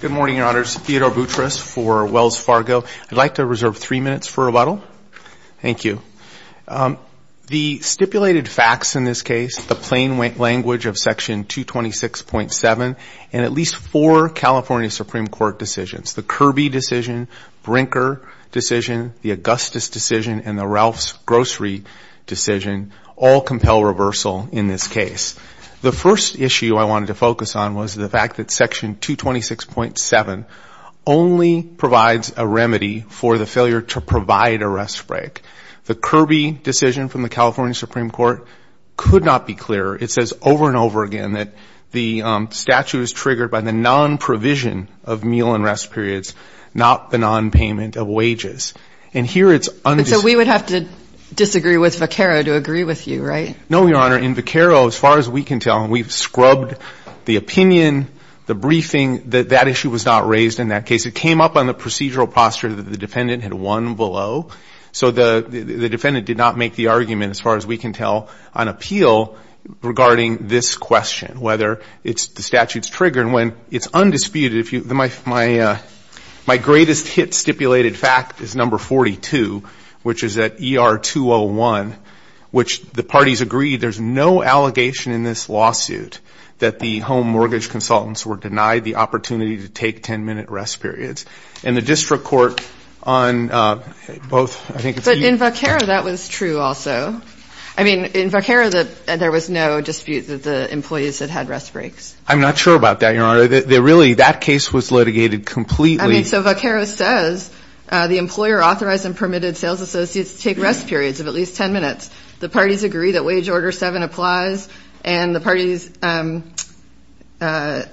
Good morning, Your Honors. Theodore Boutrous for Wells Fargo. I'd like to reserve three minutes for rebuttal. Thank you. The stipulated facts in this case, the plain language of Section 226.7, and at least four California Supreme Court decisions, the Kirby decision, Brinker decision, the Augustus decision, and the Ralph's grocery decision, all compel reversal in this case. The first issue I wanted to focus on was the fact that Section 226.7 only provides a remedy for the failure to provide a rest break. The Kirby decision from the California Supreme Court could not be clearer. It says over and over again that the statute was triggered by the non-provision of meal and rest periods, not the non-payment of wages. And here it's undisputed. And I would disagree with Vaccaro to agree with you, right? No, Your Honor. In Vaccaro, as far as we can tell, and we've scrubbed the opinion, the briefing, that that issue was not raised in that case. It came up on the procedural posture that the defendant had won below. So the defendant did not make the argument, as far as we can tell, on appeal regarding this question, whether it's the statute's trigger. And when it's agreed, there's no allegation in this lawsuit that the home mortgage consultants were denied the opportunity to take 10-minute rest periods. And the district court on both, I think, it's you. But in Vaccaro, that was true also. I mean, in Vaccaro, there was no dispute that the employees had had rest breaks. I'm not sure about that, Your Honor. Really, that case was litigated completely. I mean, so Vaccaro says the employer authorized and permitted sales associates to take rest periods of at least 10 minutes. The parties agree that Wage Order 7 applies and the parties – sorry,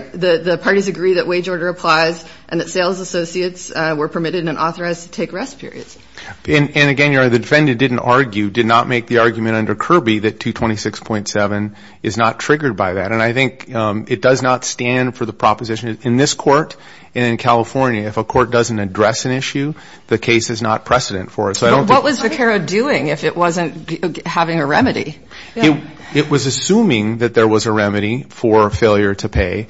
the parties agree that Wage Order applies and that sales associates were permitted and authorized to take rest periods. And again, Your Honor, the defendant didn't argue, did not make the argument under Kirby that 226.7 is not triggered by that. And I think it does not stand for the proposition in this court and in California. If a court doesn't address an issue, the case is not precedent for it. But what was Vaccaro doing if it wasn't having a remedy? It was assuming that there was a remedy for failure to pay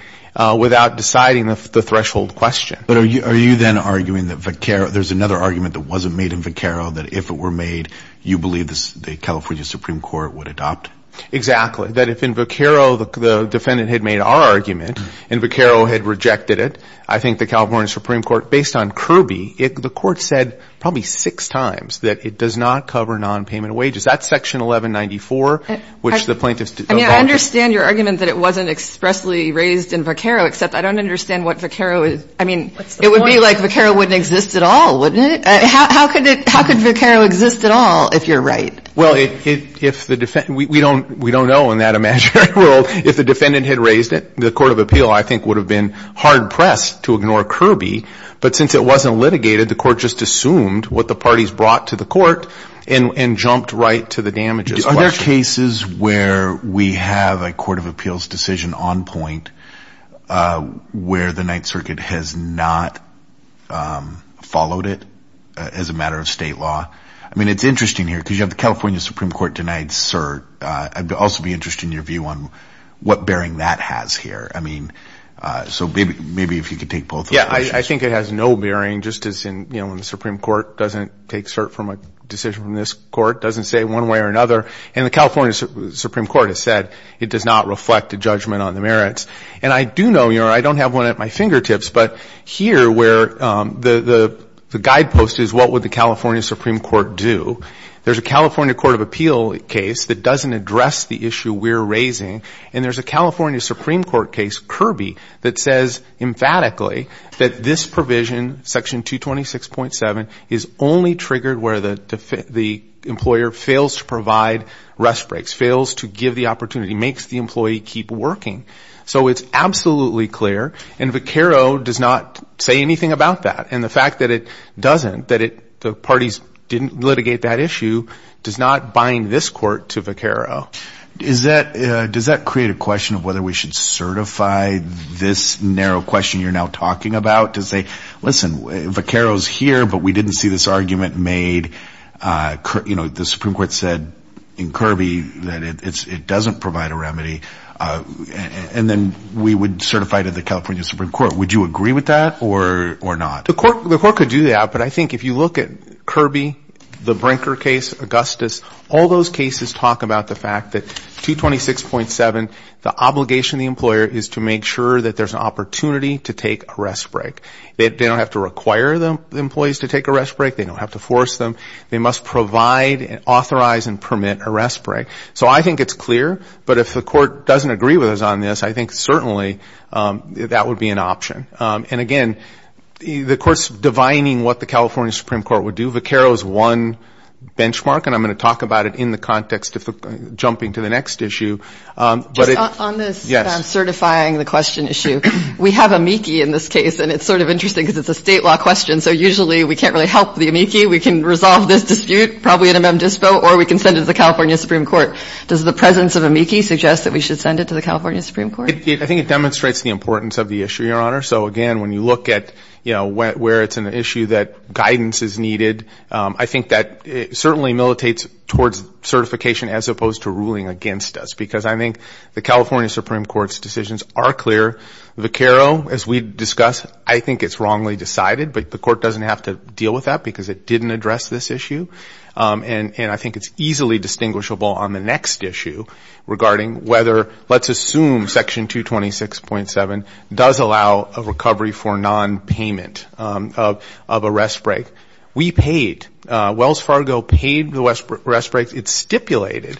without deciding the threshold question. But are you then arguing that Vaccaro – there's another argument that wasn't made in Vaccaro that if it were made, you believe the California Supreme Court would adopt? Exactly. That if in Vaccaro the defendant had made our argument and Vaccaro had rejected it, I think the California Supreme Court, based on Kirby, the court said probably six times that it does not cover non-payment wages. That's Section 1194, which the plaintiffs – I mean, I understand your argument that it wasn't expressly raised in Vaccaro, except I don't understand what Vaccaro – I mean, it would be like Vaccaro wouldn't exist at all, wouldn't it? How could Vaccaro exist at all, if you're right? Well, if the – we don't know in that imaginary world. If the defendant had raised it, the court of appeal, I think, would have been hard-pressed to ignore Kirby. But since it wasn't litigated, the court just assumed what the parties brought to the court and jumped right to the damages question. Are there cases where we have a court of appeals decision on point where the Ninth Circuit has not followed it as a matter of state law? I mean, it's interesting here, because you said the California Supreme Court denied cert. I'd also be interested in your view on what bearing that has here. I mean, so maybe if you could take both of those questions. Yeah, I think it has no bearing, just as in, you know, when the Supreme Court doesn't take cert from a decision from this court, doesn't say one way or another. And the California Supreme Court has said it does not reflect a judgment on the merits. And I do know, you know, I don't have one at my fingertips, but here, where the guidepost is what would the California Supreme Court do, there's a California Court of Appeal case that doesn't address the issue we're raising, and there's a California Supreme Court case, Kirby, that says emphatically that this provision, section 226.7, is only triggered where the employer fails to provide rest breaks, fails to give the opportunity, makes the employee keep working. So it's absolutely clear, and Vaccaro does not say anything about that. And the fact that it doesn't, that the parties didn't litigate that issue, does not bind this court to Vaccaro. Is that, does that create a question of whether we should certify this narrow question you're now talking about? Does they, listen, Vaccaro's here, but we didn't see this argument made, you know, the Supreme Court said in Kirby that it doesn't provide a remedy, and then we would certify to the California Supreme Court. Would you agree with that, or not? The court could do that, but I think if you look at Kirby, the Brinker case, Augustus, all those cases talk about the fact that 226.7, the obligation of the employer is to make sure that there's an opportunity to take a rest break. They don't have to require the employees to take a rest break, they don't have to force them, they must provide and authorize and permit a rest break. So I think it's clear, but if the court doesn't agree with us on this, I think certainly that would be an option. And again, the court's divining what the California Supreme Court would do. Vaccaro's one benchmark, and I'm going to talk about it in the context of jumping to the next issue, but it, yes. On this certifying the question issue, we have amici in this case, and it's sort of interesting because it's a state law question, so usually we can't really help the amici, we can resolve this dispute, probably at a mem dispo, or we can send it to the California Supreme Court. I think it demonstrates the importance of the issue, Your Honor. So again, when you look at, you know, where it's an issue that guidance is needed, I think that it certainly militates towards certification as opposed to ruling against us because I think the California Supreme Court's decisions are clear. Vaccaro, as we discussed, I think it's wrongly decided, but the court doesn't have to deal with that because it didn't address this issue. And I think it's easily distinguishable on the next issue regarding whether, let's assume Section 226.7 does allow a recovery for nonpayment of a rest break. We paid, Wells Fargo paid the rest breaks. It stipulated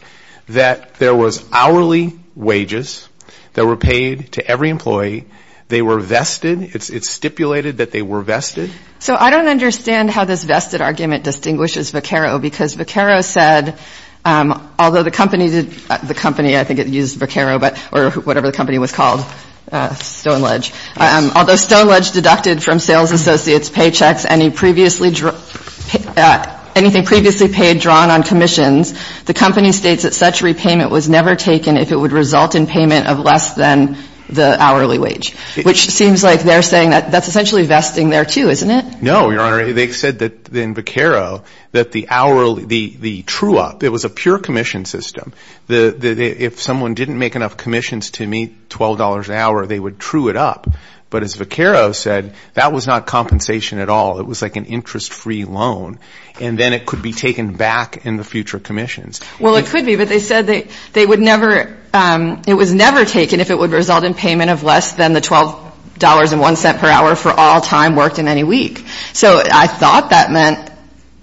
that there was hourly wages that were paid to every employee. They were vested. It stipulated that they were vested. So I don't understand how this vested argument distinguishes Vaccaro because Vaccaro said, although the company did, the company, I think it used Vaccaro, but, or whatever the company was called, Stoneledge, although Stoneledge deducted from sales associates' paychecks any previously, anything previously paid drawn on commissions, the company states that such repayment was never taken if it would result in payment of less than the hourly wage, which seems like they're saying that that's essentially vesting there too, isn't it? No, Your Honor. They said that in Vaccaro that the true up, it was a pure commission system. If someone didn't make enough commissions to meet $12 an hour, they would true it up. But as Vaccaro said, that was not compensation at all. It was like an interest-free loan. And then it could be taken back in the future commissions. Well, it could be, but they said they would never, it was never taken if it would result in payment of less than the $12.01 per hour for all time worked in any week. So I thought that meant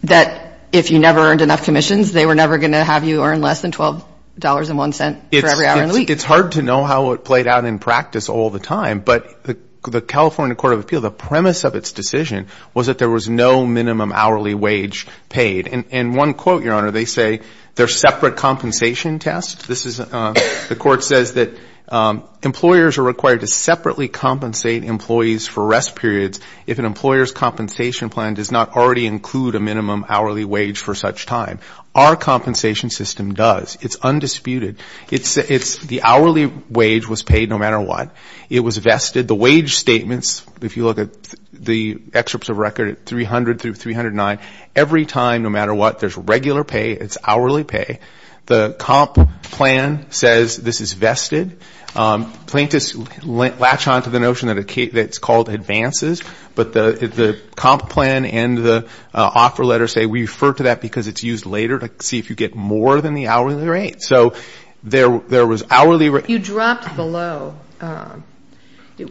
that if you never earned enough commissions, they were never going to have you earn less than $12.01 for every hour in a week. It's hard to know how it played out in practice all the time, but the California Court of Appeal, the premise of its decision was that there was no minimum hourly wage paid. And one quote, Your Honor, they say they're separate compensation tests. This is, the court says that employers are required to separately compensate employees for rest periods if an employer's compensation plan does not already include a minimum hourly wage for such time. Our compensation system does. It's undisputed. It's, the hourly wage was paid no matter what. It was vested. The wage statements, if you look at the excerpts of record at 300 through 309, every time, no matter what, there's regular pay, it's hourly pay. The comp plan says this is vested. Plaintiffs latch on to the notion that it's called advances, but the comp plan and the offer letter say we refer to that because it's used later to see if you get more than the hourly rate. So there was hourly rate You dropped below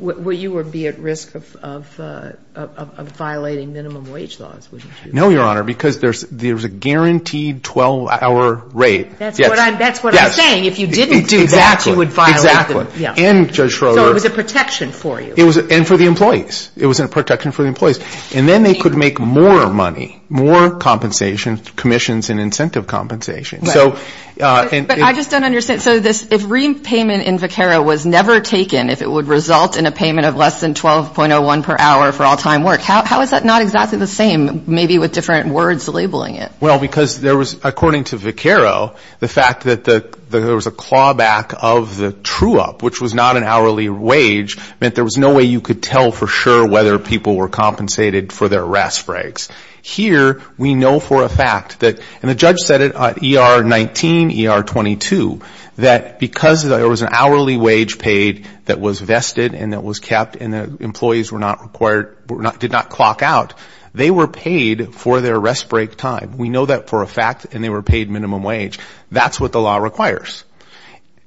where you would be at risk of violating minimum wage laws, wouldn't you? No, Your Honor, because there's a guaranteed 12-hour rate. That's what I'm saying. If you didn't do that, you would violate them. Exactly. And Judge Schroeder. So it was a protection for you. And for the employees. It was a protection for the employees. And then they could make more money, more compensation, commissions and incentive compensation. But I just don't understand. So this, if repayment in VCARA was never taken, if it would result in a payment of less than 12.01 per hour for all-time work, how is that not exactly the same, maybe with different words labeling it? Well, because there was, according to VCARA, the fact that there was a clawback of the true-up, which was not an hourly wage, meant there was no way you could tell for sure whether people were compensated for their rest breaks. Here, we know for a fact, and the judge said it, ER19, ER22, that because there was an hourly wage paid that was vested and that was kept and the employees were not required, did not clock out, they were paid for their rest break time. We know that for a fact and they were paid minimum wage. That's what the law requires.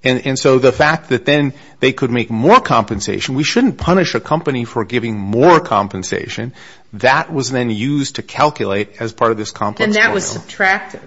And so the fact that then they could make more compensation, we shouldn't punish a company for giving more compensation, that was then used to calculate as part of this complex formula. And that was subtracted.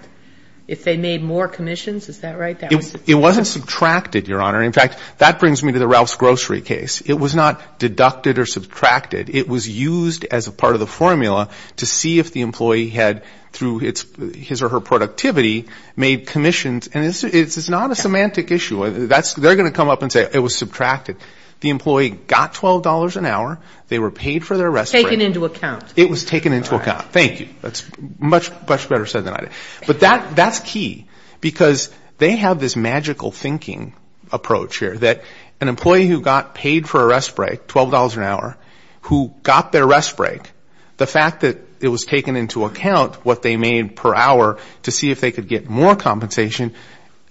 If they made more commissions, is that right? It wasn't subtracted, Your Honor. In fact, that brings me to the Ralph's Grocery case. It was not deducted or subtracted. It was used as a part of the formula to see if the employee had, through his or her productivity, made commissions. And it's not a semantic issue. They're going to come up and say it was subtracted. The employee got $12 an hour. They were paid for their rest break. Taken into account. It was taken into account. Thank you. That's much better said than I did. But that's key because they have this magical thinking approach here that an employee who got paid for a rest break, $12 an hour, who got their rest break, the fact that it was taken into account, what they made per hour to see if they could get more compensation,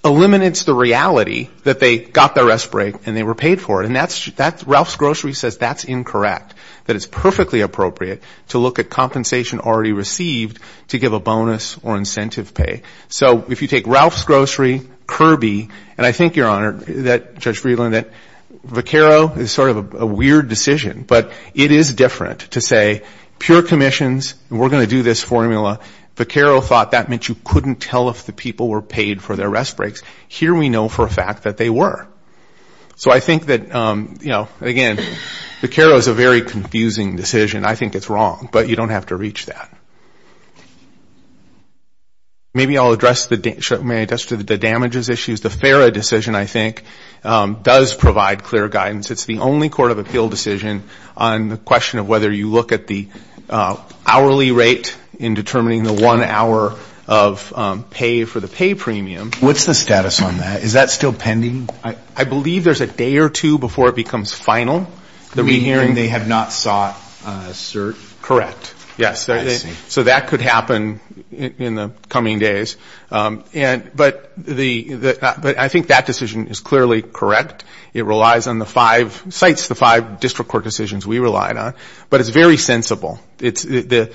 eliminates the reality that they got their rest break and they were paid for it. And that's, Ralph's Grocery says that's incorrect. That it's perfectly appropriate to look at compensation already received to give a bonus or incentive pay. So if you take Ralph's Grocery, Kirby, and I think, Your Honor, that Judge is different. To say, pure commissions, we're going to do this formula. Vaccaro thought that meant you couldn't tell if the people were paid for their rest breaks. Here we know for a fact that they were. So I think that, again, Vaccaro is a very confusing decision. I think it's wrong. But you don't have to reach that. Maybe I'll address the damages issues. The FARA decision, I think, does provide clear on the question of whether you look at the hourly rate in determining the one hour of pay for the pay premium. What's the status on that? Is that still pending? I believe there's a day or two before it becomes final. Meaning they have not sought a cert? Correct. So that could happen in the coming days. But I think that decision is clearly correct. It relies on the five, cites the five district court decisions we relied on. But it's very sensible. The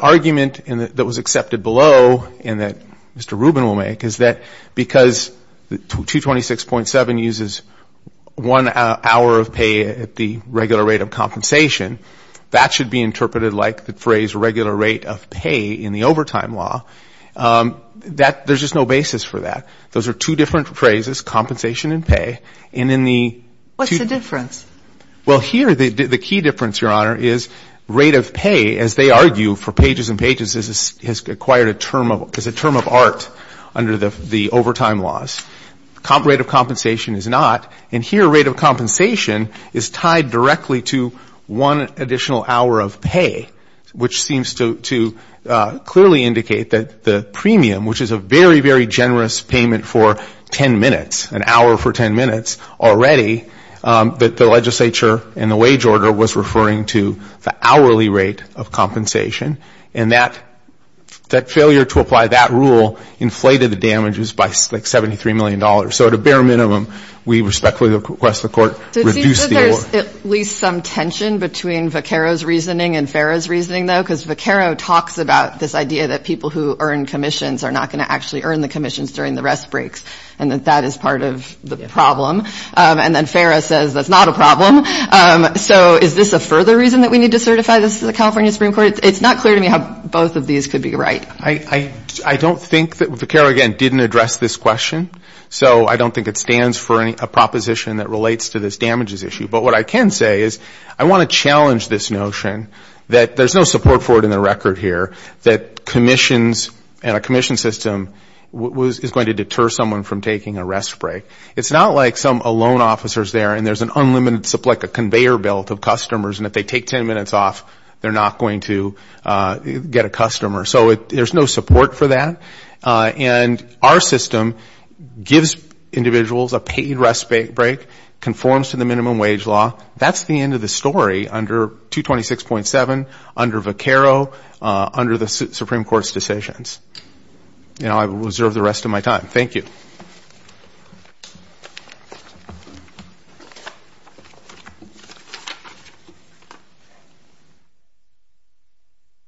argument that was accepted below and that Mr. Rubin will make is that because 226.7 uses one hour of pay at the regular rate of compensation, that should be interpreted like the phrase regular rate of pay in the overtime law. There's just no basis for that. Those are two different phrases, compensation and pay. What's the difference? Well, here the key difference, Your Honor, is rate of pay, as they argue for pages and pages, is a term of art under the overtime laws. Rate of compensation is not. And here rate of compensation is tied directly to one additional hour of pay, which seems to clearly indicate that the premium, which is a very, very generous payment for 10 minutes, an hour for 10 minutes already, that the legislature and the wage order was referring to the hourly rate of compensation. And that failure to apply that rule inflated the damages by like $73 million. So at a bare minimum, we respectfully request the court reduce the award. Do you think that there's at least some tension between Vaccaro's reasoning and Farah's reasoning, though? Because Vaccaro talks about this idea that people who earn commissions are not going to actually earn the commissions during the rest breaks, and that that is part of the problem. And then Farah says that's not a problem. So is this a further reason that we need to certify this to the California Supreme Court? It's not clear to me how both of these could be right. I don't think that Vaccaro, again, didn't address this question. So I don't think it stands for a proposition that relates to this damages issue. But what I can say is I want to challenge this notion that there's no support for it in the record here, that commissions and a commission system is going to deter someone from taking a rest break. It's not like some alone officers there and there's an unlimited supply, like a conveyor belt of customers, and if they take 10 minutes off, they're not going to get a customer. So there's no support for that. And our system gives individuals a paid rest break, conforms to the minimum wage law. That's the end of the story under 226.7, under Vaccaro, under the Supreme Court's decisions. Now I will reserve the rest of my time. Thank you.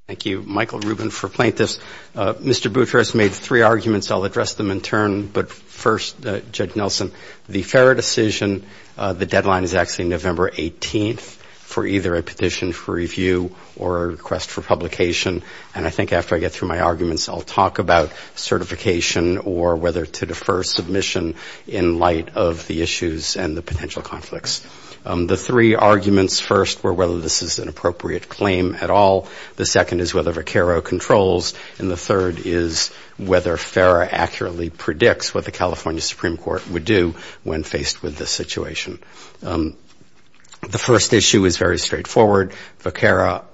Thank you, Michael Rubin, for playing this. Mr. Boutrous made three arguments. I'll address them in turn. But first, Judge Nelson, the FARA decision, the deadline is actually November 18th for either a petition for review or a request for publication. And I think after I get through my arguments, I'll talk about certification or whether to defer submission in light of the issues and the potential conflicts. The three arguments, first, were whether this is an appropriate claim at all. The second is whether Vaccaro controls. And the third is whether FARA accurately predicts what the California Supreme Court would do when faced with this situation. The first issue is very straightforward. Vaccaro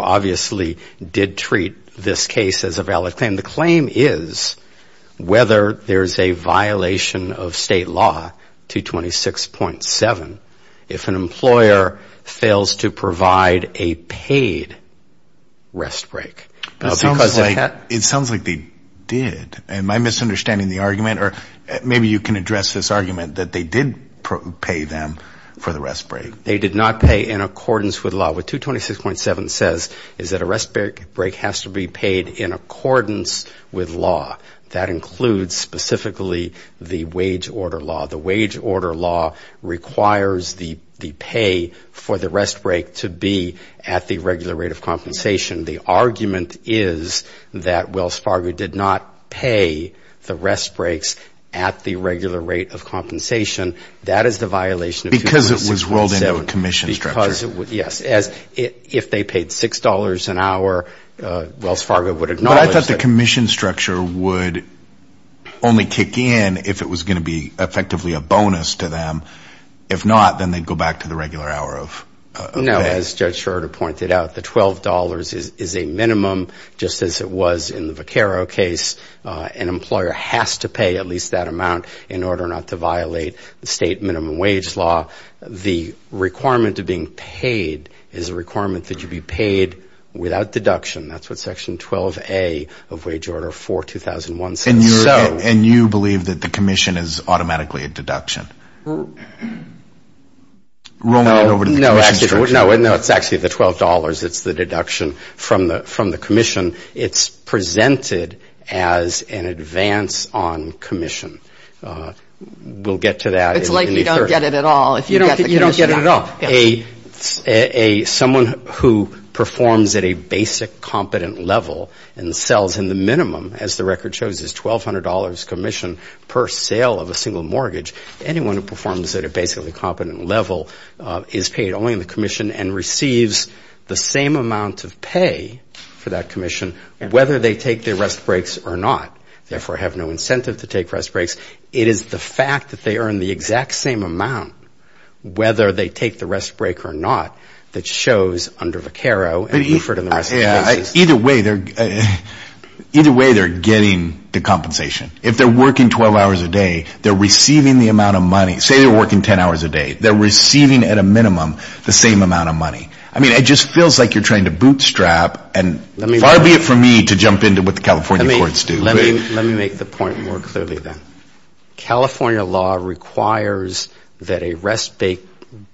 obviously did treat this case as a valid claim. The claim is whether there's a violation of state law, 226.7, if an employer fails to pay the rest break. It sounds like they did. Am I misunderstanding the argument? Or maybe you can address this argument that they did pay them for the rest break. They did not pay in accordance with law. What 226.7 says is that a rest break has to be paid in accordance with law. That includes specifically the wage order law. The wage order law requires the pay for the rest break to be at the regular rate of compensation, the argument is that Wells Fargo did not pay the rest breaks at the regular rate of compensation. That is the violation of 226.7. Because it was rolled into a commission structure. Yes. If they paid $6 an hour, Wells Fargo would acknowledge that. But I thought the commission structure would only kick in if it was going to be effectively a bonus to them. If not, then they'd go back to the regular hour of pay. As Judge Schroeder pointed out, the $12 is a minimum, just as it was in the Vaccaro case. An employer has to pay at least that amount in order not to violate the state minimum wage law. The requirement of being paid is a requirement that you be paid without deduction. That's what section 12A of wage order 4, 2001, says. No, it's actually the $12. It's the deduction from the commission. It's presented as an advance on commission. We'll get to that. It's like you don't get it at all. You don't get it at all. Someone who performs at a basic competent level and sells in the commission, someone who performs at a basically competent level, is paid only in the commission and receives the same amount of pay for that commission, whether they take their rest breaks or not. Therefore, have no incentive to take rest breaks. It is the fact that they earn the exact same amount, whether they take the rest break or not, that shows under Vaccaro and preferred in the rest of the cases. Either way, they're getting the compensation. If they're working 12 hours a day, they're receiving the amount of money. Say they're working 10 hours a day. They're receiving at a minimum the same amount of money. I mean, it just feels like you're trying to bootstrap and far be it from me to jump into what the California courts do. Let me make the point more clearly then. California law requires that a rest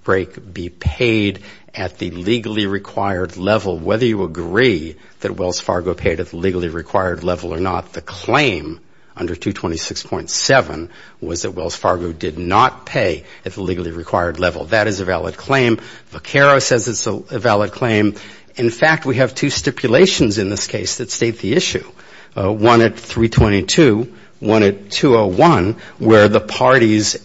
break be paid at the legally required level, whether you agree that Wells Fargo paid at the legally required level or not. The claim under 226.7 was that Wells Fargo did not pay at the legally required level. That is a valid claim. Vaccaro says it's a valid claim. In fact, we have two stipulations in this case that state the issue. One at 322, one at 201, where the parties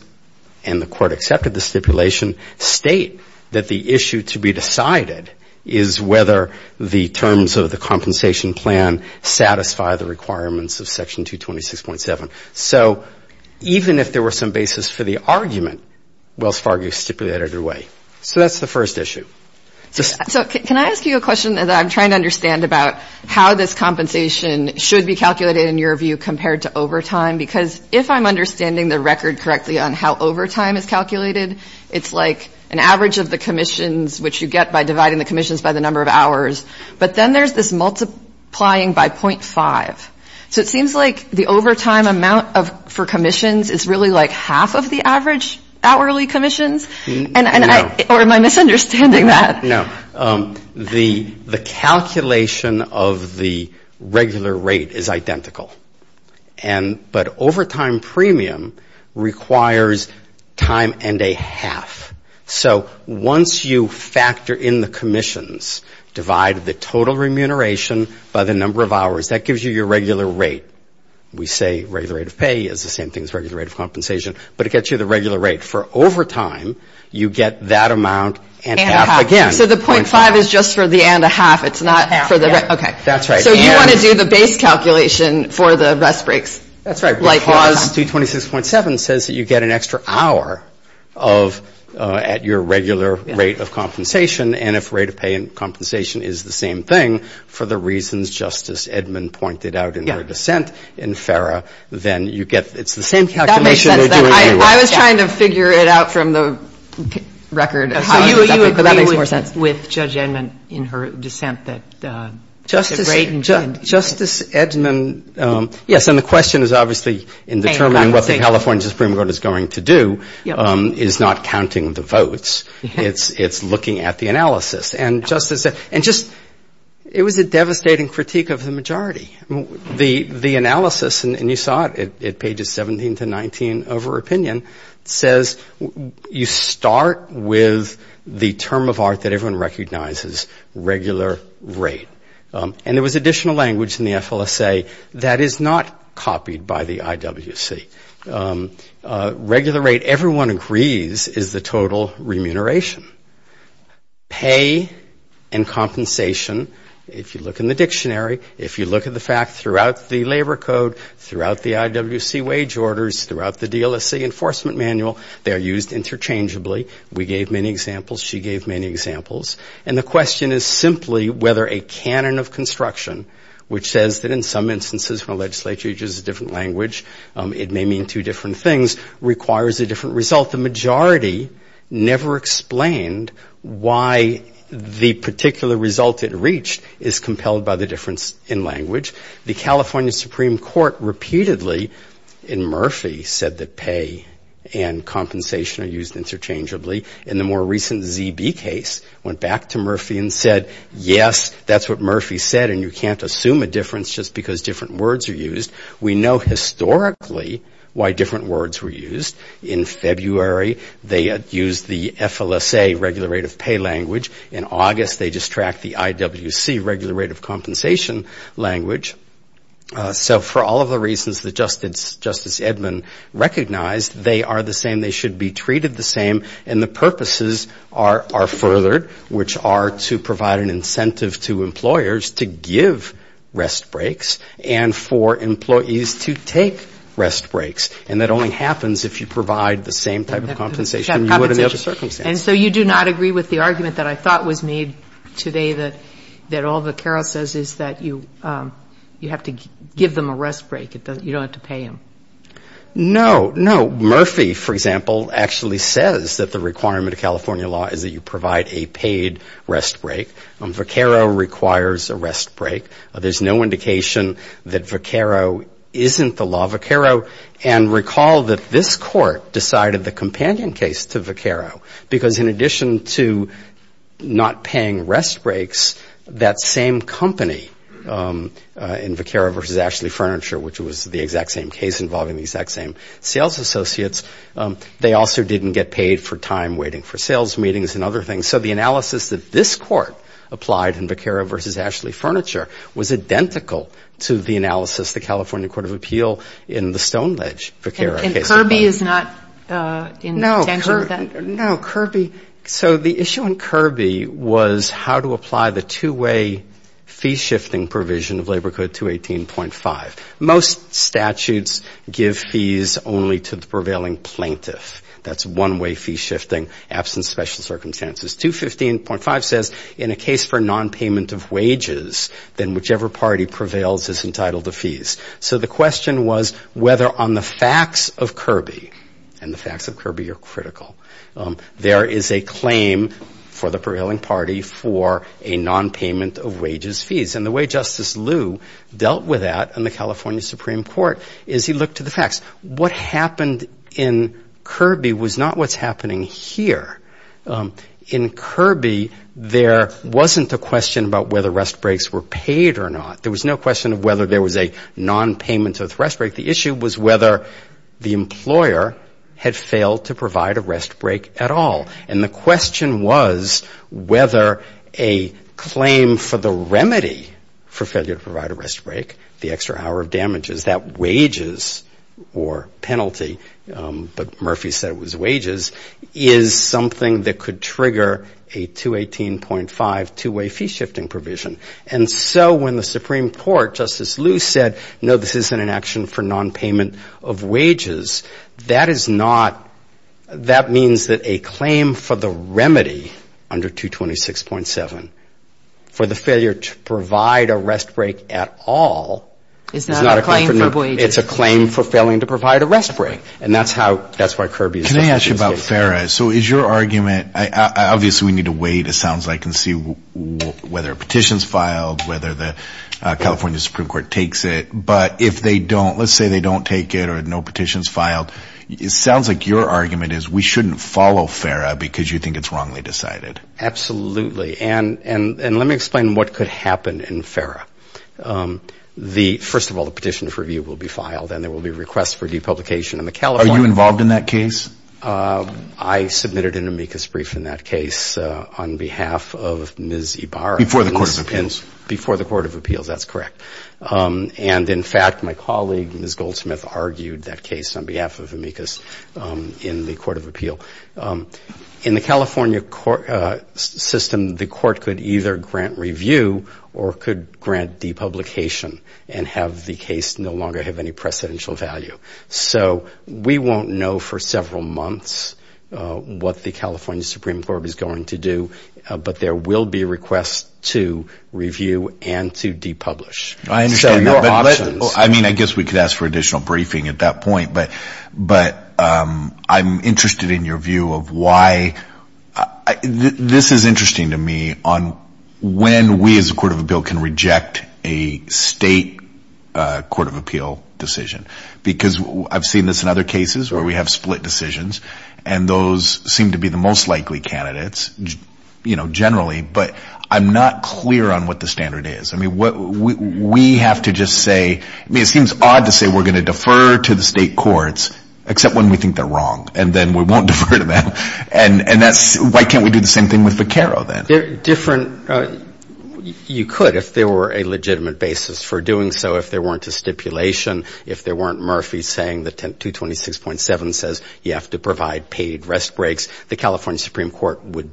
and the court accepted the stipulation state that the issue to be decided is whether the terms of the compensation plan satisfy the requirements of section 226.7. So even if there were some basis for the argument, Wells Fargo stipulated it away. So that's the first issue. So can I ask you a question that I'm trying to understand about how this compensation should be calculated in your view compared to overtime? Because if I'm understanding the record correctly on how overtime is calculated, it's like an average of the commissions which you get by dividing the commissions by the number of hours. But then there's this multiplying by .5. So it seems like the overtime amount for commissions is really like half of the average hourly commissions? Or am I misunderstanding that? No. The calculation of the regular rate is identical. But overtime premium requires time and a half. So once you factor in the commissions, divide the total remuneration by the number of hours, that gives you your regular rate. We say regular rate of pay is the same thing as regular rate of compensation. But it gets you the regular rate. For overtime, you get that amount and half again. So the .5 is just for the and a half. It's not for the rest. So you want to do the base calculation for the rest breaks? That's right. Because 226.7 says that you get an extra hour at your regular rate of compensation. And if rate of pay and compensation is the same thing for the reasons Justice Edmund pointed out in her dissent in FARA, then you get the same calculation. I was trying to figure it out from the record. So you agree with Judge Edmund in her dissent that the rate and... Justice Edmund, yes. And the question is obviously in determining what the California Supreme Court is going to do is not counting the votes. It's looking at the analysis. And Justice Edmund, it was a devastating critique of the majority. The analysis, and you saw it at pages 17 to 19 of her opinion, says you start with the term of art that everyone recognizes, regular rate. And there was additional language in the FLSA that is not copied by the IWC. Regular rate, everyone agrees, is the total remuneration. Pay and compensation, if you look in the dictionary, if you look at the fact throughout the labor code, throughout the IWC wage orders, throughout the DLSC enforcement manual, they are used interchangeably. We gave many examples. She gave many examples. And the question is simply whether a canon of construction, which says that in some instances when a legislature uses a different language, it may mean two different things, requires a different result. The majority never explained why the particular result it reached is compelled by the difference in language. The California Supreme Court repeatedly, in Murphy, said that pay and compensation are used interchangeably. In the more recent ZB case, went back to Murphy and said, yes, that's what Murphy said, and you can't assume a difference just because different words are used. We know historically why different words were used. In February, they used the FLSA, regular rate of pay language. In August, they just tracked the IWC, regular rate of compensation language. So for all of the reasons that Justice Edmund recognized, they are the same. They should be treated the same. And the purposes are furthered, which are to provide an incentive to employers to give rest breaks and for employees to take rest breaks. And that only happens if you provide the same type of compensation you would in the other circumstances. And so you do not agree with the argument that I thought was made today that all Vaquero says is that you have to give them a rest break. You don't have to pay them. No, no. Murphy, for example, actually says that the requirement of California law is that you provide a paid rest break. Vaquero requires a rest break. There's no indication that Vaquero isn't the law of Vaquero. And recall that this Court decided the companion case to Vaquero because in addition to not paying rest breaks, that same company in Vaquero v. Ashley Furniture, which was the exact same case involving the exact same sales associates, they also didn't get paid for time waiting for sales meetings and other things. So the analysis that this Court applied in Vaquero v. Ashley Furniture was identical to the analysis the California Court of Appeal in the Stoneledge, Vaquero case. Kirby is not in danger of that? No, Kirby. So the issue in Kirby was how to apply the two-way fee shifting provision of Labor Code 218.5. Most statutes give fees only to the prevailing plaintiff. That's one-way fee shifting, absent special circumstances. 215.5 says in a case for nonpayment of wages, then whichever party prevails is entitled to fees. So the question was whether on the facts of Kirby, and the facts of Kirby are critical, there is a claim for the prevailing party for a nonpayment of wages fees. And the way Justice Liu dealt with that in the California Supreme Court is he looked to the facts. What happened in Kirby was not what's happening here. In Kirby, there wasn't a question about whether rest breaks were paid or not. There was no question of whether there was a nonpayment of rest break. The issue was whether the employer had failed to provide a rest break at all. And the question was whether a claim for the remedy for failure to provide a rest break, the extra hour of damages, that wages or penalty, but Murphy said it was wages, is something that could trigger a 218.5 two-way fee shifting provision. And so when the Supreme Court, Justice Liu said, no, this isn't an action for nonpayment of wages, that is not, that means that a claim for the remedy under 226.7 for the failure to provide a rest break at all is not a claim for wages. It's a claim for failing to provide a rest break. And that's how, that's why Kirby is. Can I ask you about FARA? So is your argument, obviously we need to wait, it sounds like, and see whether a petition is filed, whether the California Supreme Court takes it, but if they don't, let's say they don't take it or no petition is filed, it sounds like your argument is we shouldn't follow FARA because you think it's wrongly decided. Absolutely. And let me explain what could happen in FARA. First of all, the petition for review will be filed and there will be requests for depublication. Are you involved in that case? I submitted an amicus brief in that case on behalf of Ms. Ibarra. Before the Court of Appeals? Before the Court of Appeals, that's correct. And in fact, my colleague, Ms. Goldsmith, argued that case on behalf of amicus in the Court of Appeal. In the California system, the court could either grant review or could grant depublication and have the case no longer have any precedential value. So we won't know for several months what the California Supreme Court is going to do, but there will be requests to review and to depublish. I understand, but I mean, I guess we could ask for additional briefing at that point, but I'm interested in your view of why... This is interesting to me on when we, as a Court of Appeal, can reject a state Court of Appeal decision, because I've seen this in other cases where we have split decisions and those seem to be the most likely candidates, you know, generally, but I'm not clear on what the standard is. I mean, we have to just say... I mean, it seems odd to say we're going to defer to the state courts, except when we think they're wrong, and then we won't defer to them. And that's... Why can't we do the same thing with Vaquero then? Different... You could if there were a legitimate basis for doing so if there weren't a stipulation. If there weren't Murphy saying that 226.7 says you have to provide paid rest breaks, the California Supreme Court would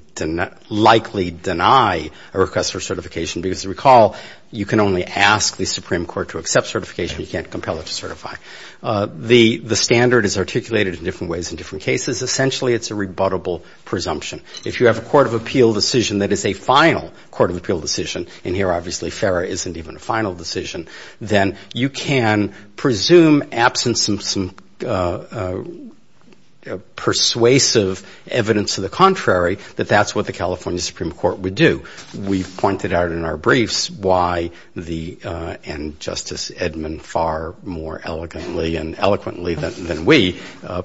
likely deny a request for certification, because recall, you can only ask the Supreme Court to accept certification. You can't compel it to certify. The standard is articulated in different ways in different cases. Essentially, it's a rebuttable presumption. If you have a Court of Appeal decision that is a final Court of Appeal decision, and here, obviously, FARA isn't even a final decision, then you can presume absence of some persuasive evidence to the contrary that that's what the California Supreme Court would do. We've pointed out in our briefs why the... And Justice Edmond far more elegantly and eloquently than we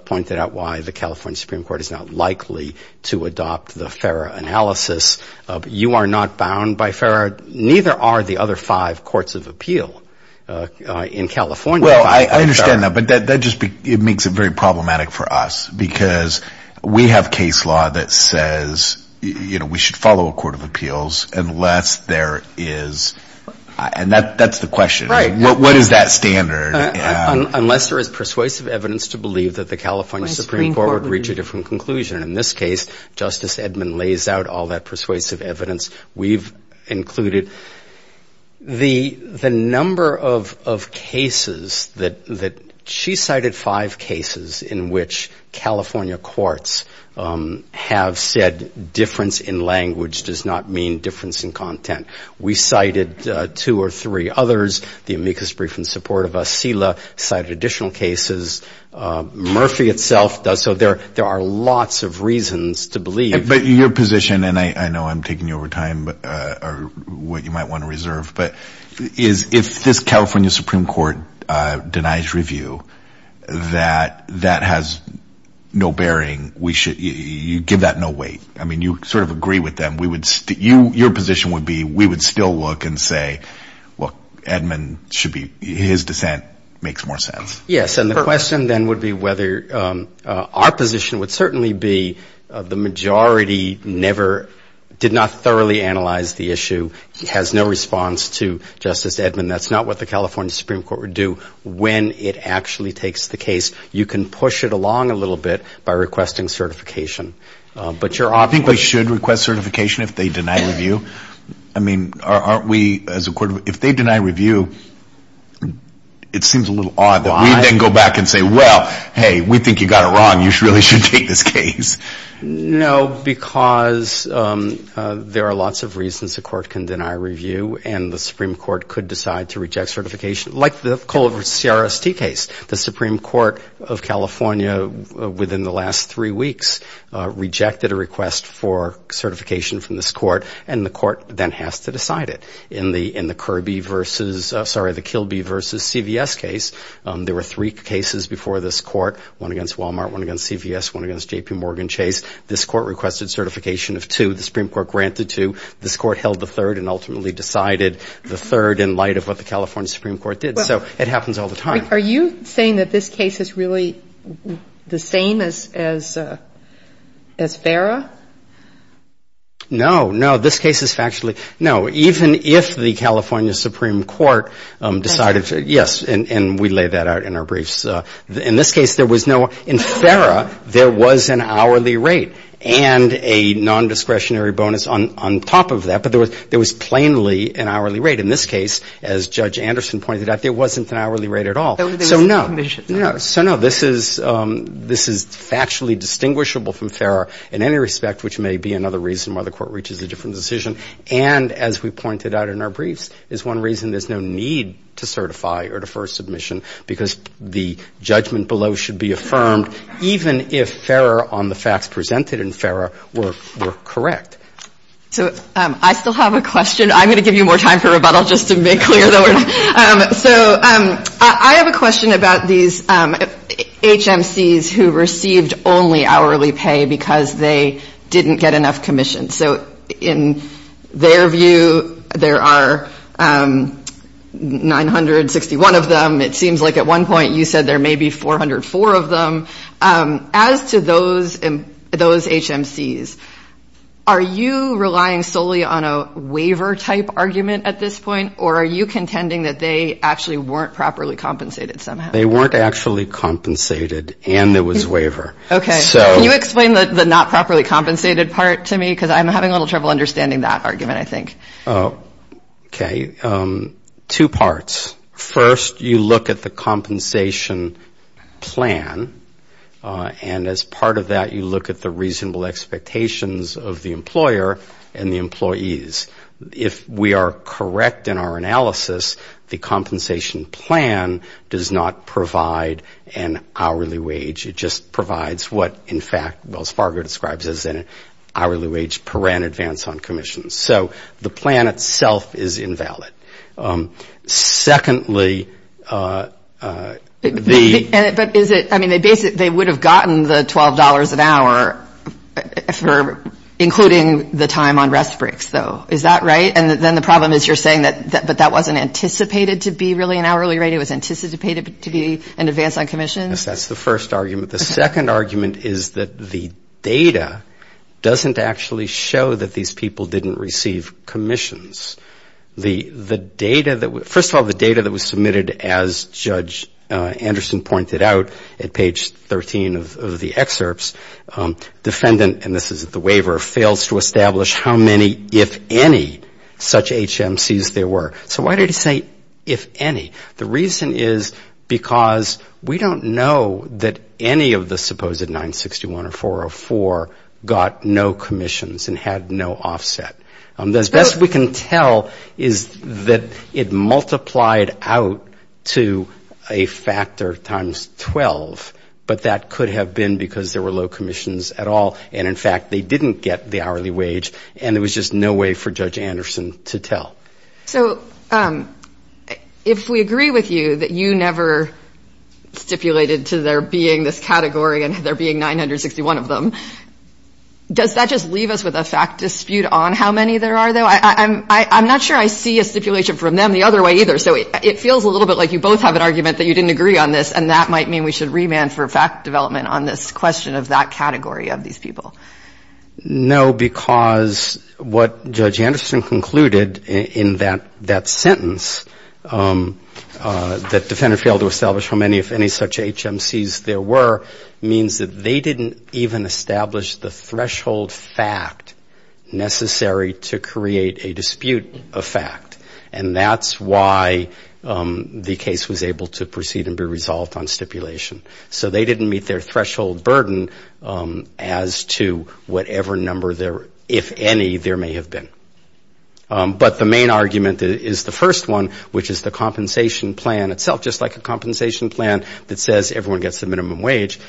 pointed out why the California Supreme Court is not likely to adopt the FARA analysis. You are not bound by FARA. Neither are the other five Courts of Appeal in California. Well, I understand that, but that just makes it very problematic for us, because we have case law that says we should follow a Court of Appeals unless there is... And that's the question. What is that standard? Unless there is persuasive evidence to believe that the California Supreme Court would reach a different conclusion. In this case, Justice Edmond lays out all that persuasive evidence we've included. The number of cases that... She cited five cases in which California courts have said difference in language does not mean difference in content. We cited two or three others. The amicus brief in support of us, CILA, cited additional cases. Murphy itself does. So there are lots of reasons to believe... But your position, and I know I'm taking you over time, or what you might want to reserve, but is if this California Supreme Court denies review, that that has no bearing. You give that no weight. I mean, you sort of agree with them. Your position would be we would still look and say, look, Edmond should be... His dissent makes more sense. Yes, and the question then would be whether our position would certainly be the majority never, did not thoroughly analyze the issue, has no response to Justice Edmond. That's not what the California Supreme Court would do when it actually takes the case. You can push it along a little bit by requesting certification. I think we should request certification if they deny review. I mean, aren't we as a court, if they deny review, it seems a little odd that we then go back and say, well, hey, we think you got it wrong. You really should take this case. No, because there are lots of reasons a court can deny review, and the Supreme Court could decide to reject certification. Like the Colbert CRST case. The Supreme Court of California, within the last three weeks, rejected a request for certification from this court, and the court then has to decide it. In the Kirby versus, sorry, the Kilby versus CVS case, there were three cases before this court. One against Walmart, one against CVS, one against JPMorgan Chase. This court requested certification of two. The Supreme Court granted two. This court held the third and ultimately decided the third in light of what the California Supreme Court did. So it happens all the time. Are you saying that this case is really the same as Farah? No. No. This case is factually no. Even if the California Supreme Court decided to yes, and we lay that out in our briefs. In this case, there was no ‑‑ in Farah, there was an hourly rate. And a nondiscretionary bonus on top of that. But there was plainly an hourly rate. In this case, as Judge Anderson pointed out, there wasn't an hourly rate at all. So there was a commission. So no. This is factually distinguishable from Farah in any respect, which may be another reason why the court reaches a different decision. And as we pointed out in our briefs, is one reason there's no need to certify or defer submission. Because the judgment below should be affirmed, even if Farah on the facts presented in Farah were correct. So I still have a question. I'm going to give you more time for rebuttal just to make clear So I have a question about these HMCs who received only hourly pay because they didn't get enough commission. So in their view, there are 961 of them. It seems like at one point you said there may be 404 of them. As to those HMCs, are you relying solely on a waiver type argument at this point? Or are you contending that they actually weren't properly compensated somehow? They weren't actually compensated and there was waiver. Okay. Can you explain the not properly compensated part to me? Because I'm having a little trouble understanding that argument, I think. Okay. Two parts. First, you look at the compensation plan. And as part of that, you look at the analysis, the compensation plan does not provide an hourly wage. It just provides what, in fact, Wells Fargo describes as an hourly wage per rent advance on commissions. So the plan itself is invalid. Secondly, the But is it, I mean, they would have gotten the $12 an hour for including the time on commission. The problem is you're saying that that wasn't anticipated to be really an hourly rate. It was anticipated to be an advance on commissions. Yes, that's the first argument. The second argument is that the data doesn't actually show that these people didn't receive commissions. The data that, first of all, the data that was submitted as Judge Anderson pointed out at page 13 of the excerpts, defendant, and this is the waiver, fails to establish how many, if any, such HMCs there were. So why did he say if any? The reason is because we don't know that any of the supposed 961 or 404 got no commissions and had no offset. As best we can tell is that it multiplied out to a factor times 12, but that could have been because there were low commissions at all, and in fact, they didn't get the hourly wage, and there was just no way for Judge Anderson to tell. So if we agree with you that you never stipulated to there being this category and there being 961 of them, does that just leave us with a fact dispute on how many there are, though? I'm not sure I see a stipulation from them the other way either. So it feels a little bit like you both have an argument that you didn't agree on this, and that might mean we should remand for fact development on this question of that category of these people. No, because what Judge Anderson concluded in that sentence, that defendant failed to establish how many, if any, such HMCs there were, means that they didn't even establish the threshold fact necessary to create a dispute of fact, and that's why the case was able to proceed and be resolved on stipulation. So they didn't meet their threshold burden as to whatever number there, if any, there may have been. But the main argument is the first one, which is the compensation plan itself, just like a compensation plan that says everyone gets the minimum wage,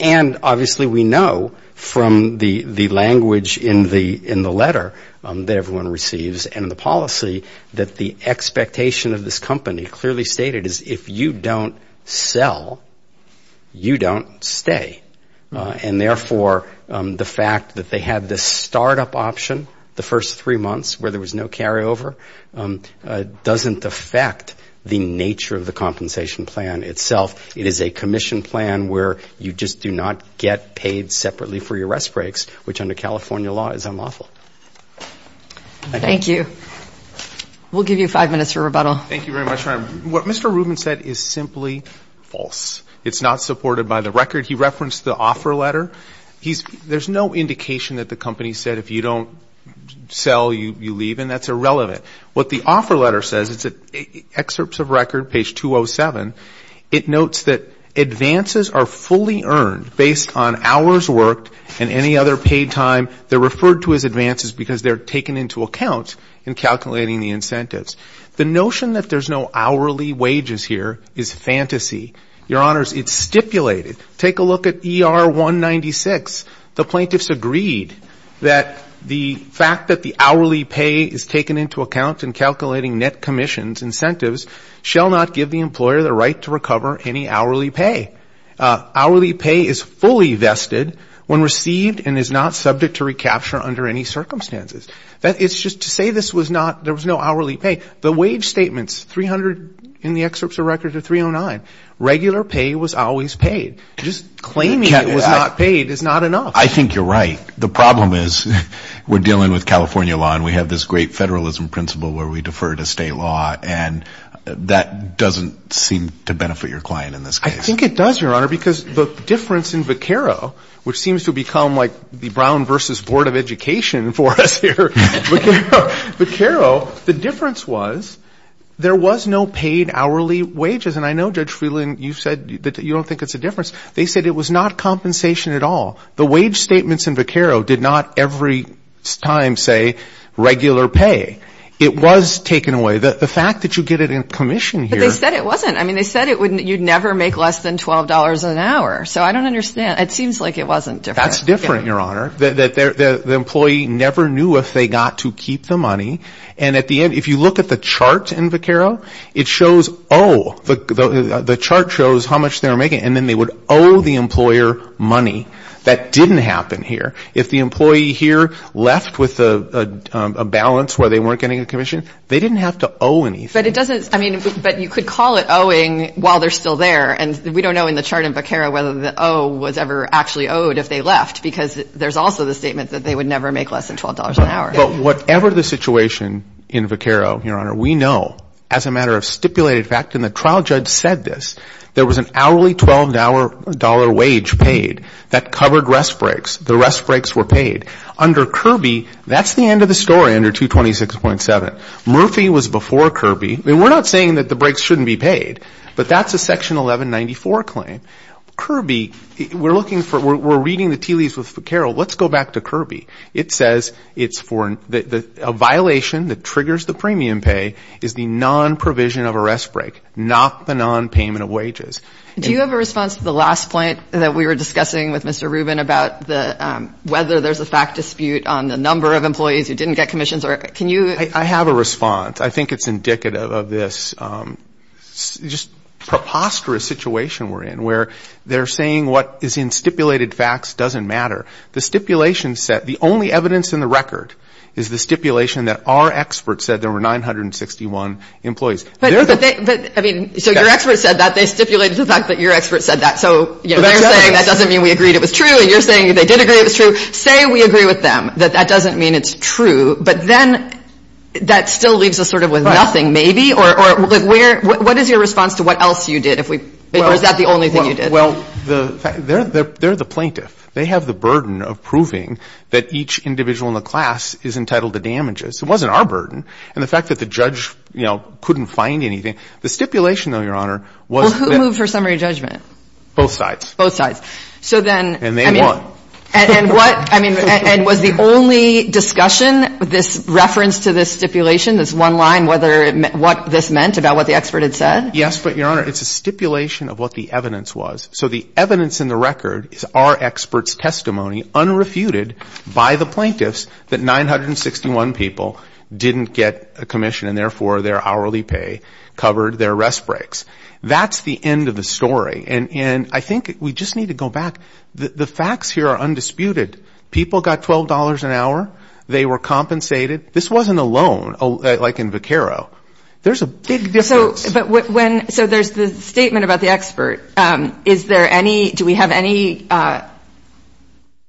and obviously we know from the language in the letter that everyone receives and the policy that the expectation of this is that if you don't sell, you don't stay. And therefore, the fact that they had the start-up option the first three months where there was no carryover doesn't affect the nature of the compensation plan itself. It is a commission plan where you just do not get paid separately for your rest breaks, which under California law is unlawful. Thank you. We'll give you five minutes for rebuttal. Thank you very much, Your Honor. What Mr. Rubin said is simply false. It's not supported by the record. He referenced the offer letter. There's no indication that the company said if you don't sell, you leave, and that's irrelevant. What the offer letter says, it's at excerpts of record, page 207, it notes that advances are fully earned based on hours worked and any other paid time. They're referred to as advances because they're taken into account in calculating the incentives. The notion that there's no hourly wages here is fantasy. Your Honors, it's stipulated. Take a look at ER 196. The plaintiffs agreed that the fact that the hourly pay is taken into account in calculating net commissions incentives shall not give the employer the right to recover any hourly pay. Hourly pay is fully vested when received and is not subject to recapture under any circumstances. It's just to say this was not, there was no hourly pay. The wage statements, 300 in the excerpts of record or 309, regular pay was always paid. Just claiming it was not paid is not enough. I think you're right. The problem is we're dealing with California law and we have this great federalism principle where we defer to state law and that doesn't seem to benefit your client in this case. I think it does, Your Honor, because the difference in Vaquero, which seems to become like the Vaquero, the difference was there was no paid hourly wages. And I know, Judge Freeland, you said that you don't think it's a difference. They said it was not compensation at all. The wage statements in Vaquero did not every time say regular pay. It was taken away. The fact that you get it in commission here But they said it wasn't. I mean, they said you'd never make less than $12 an hour. So I don't understand. It seems like it wasn't different. That's different, Your Honor. The employee never knew if they got to keep the money. And at the end, if you look at the chart in Vaquero, it shows, oh, the chart shows how much they're making. And then they would owe the employer money. That didn't happen here. If the employee here left with a balance where they weren't getting a commission, they didn't have to owe anything. But it doesn't, I mean, but you could call it owing while they're still there. And we was ever actually owed if they left because there's also the statement that they would never make less than $12 an hour. But whatever the situation in Vaquero, Your Honor, we know as a matter of stipulated fact and the trial judge said this, there was an hourly $12 wage paid that covered rest breaks. The rest breaks were paid. Under Kirby, that's the end of the story under 226.7. Murphy was before Kirby. I mean, we're not saying that the breaks shouldn't be paid, but that's a We're looking for, we're reading the TLEs with Vaquero. Let's go back to Kirby. It says it's for, a violation that triggers the premium pay is the non-provision of a rest break, not the non-payment of wages. Do you have a response to the last point that we were discussing with Mr. Rubin about the, whether there's a fact dispute on the number of employees who didn't get commissions or, can you? I have a response. I think it's indicative of this just preposterous situation we're in, where they're saying what is in stipulated facts doesn't matter. The stipulation set, the only evidence in the record is the stipulation that our experts said there were 961 employees. But, but, but, I mean, so your experts said that. They stipulated the fact that your experts said that. So, you know, they're saying that doesn't mean we agreed it was true and you're saying they did agree it was true. Say we agree with them that that doesn't mean it's true, but then that still leaves us sort of with nothing, maybe. Or, or, like, where, what is your response to what else you did if we, or is that the only thing you did? Well, the, they're, they're, they're the plaintiff. They have the burden of proving that each individual in the class is entitled to damages. It wasn't our burden. And the fact that the judge, you know, couldn't find anything. The stipulation, though, Your Honor, was. Well, who moved for summary judgment? Both sides. Both sides. So then. And they won. And, and what, I mean, and was the only discussion, this reference to this stipulation, this expert had said? Yes, but, Your Honor, it's a stipulation of what the evidence was. So the evidence in the record is our expert's testimony unrefuted by the plaintiffs that 961 people didn't get a commission and therefore their hourly pay covered their rest breaks. That's the end of the story. And, and I think we just need to go back. The facts here are undisputed. People got $12 an hour. They were compensated. This wasn't a loan, like in Vaquero. There's a big difference. So, but when, so there's the statement about the expert. Is there any, do we have any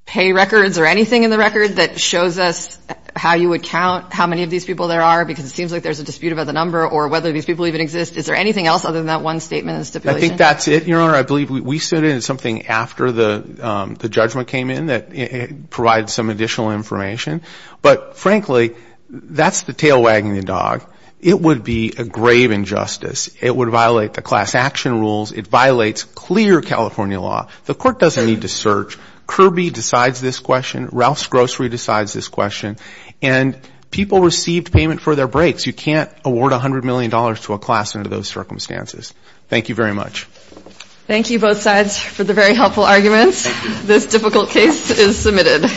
pay records or anything in the record that shows us how you would count how many of these people there are? Because it seems like there's a dispute about the number or whether these people even exist. Is there anything else other than that one statement in the stipulation? I think that's it, Your Honor. I believe we, we sent in something after the, the judgment came in that provided some additional information. But frankly, that's the tail wagging the grave injustice. It would violate the class action rules. It violates clear California law. The court doesn't need to search. Kirby decides this question. Ralph's Grocery decides this question. And people received payment for their breaks. You can't award $100 million to a class under those circumstances. Thank you very much. Thank you both sides for the very helpful arguments. This difficult case is submitted.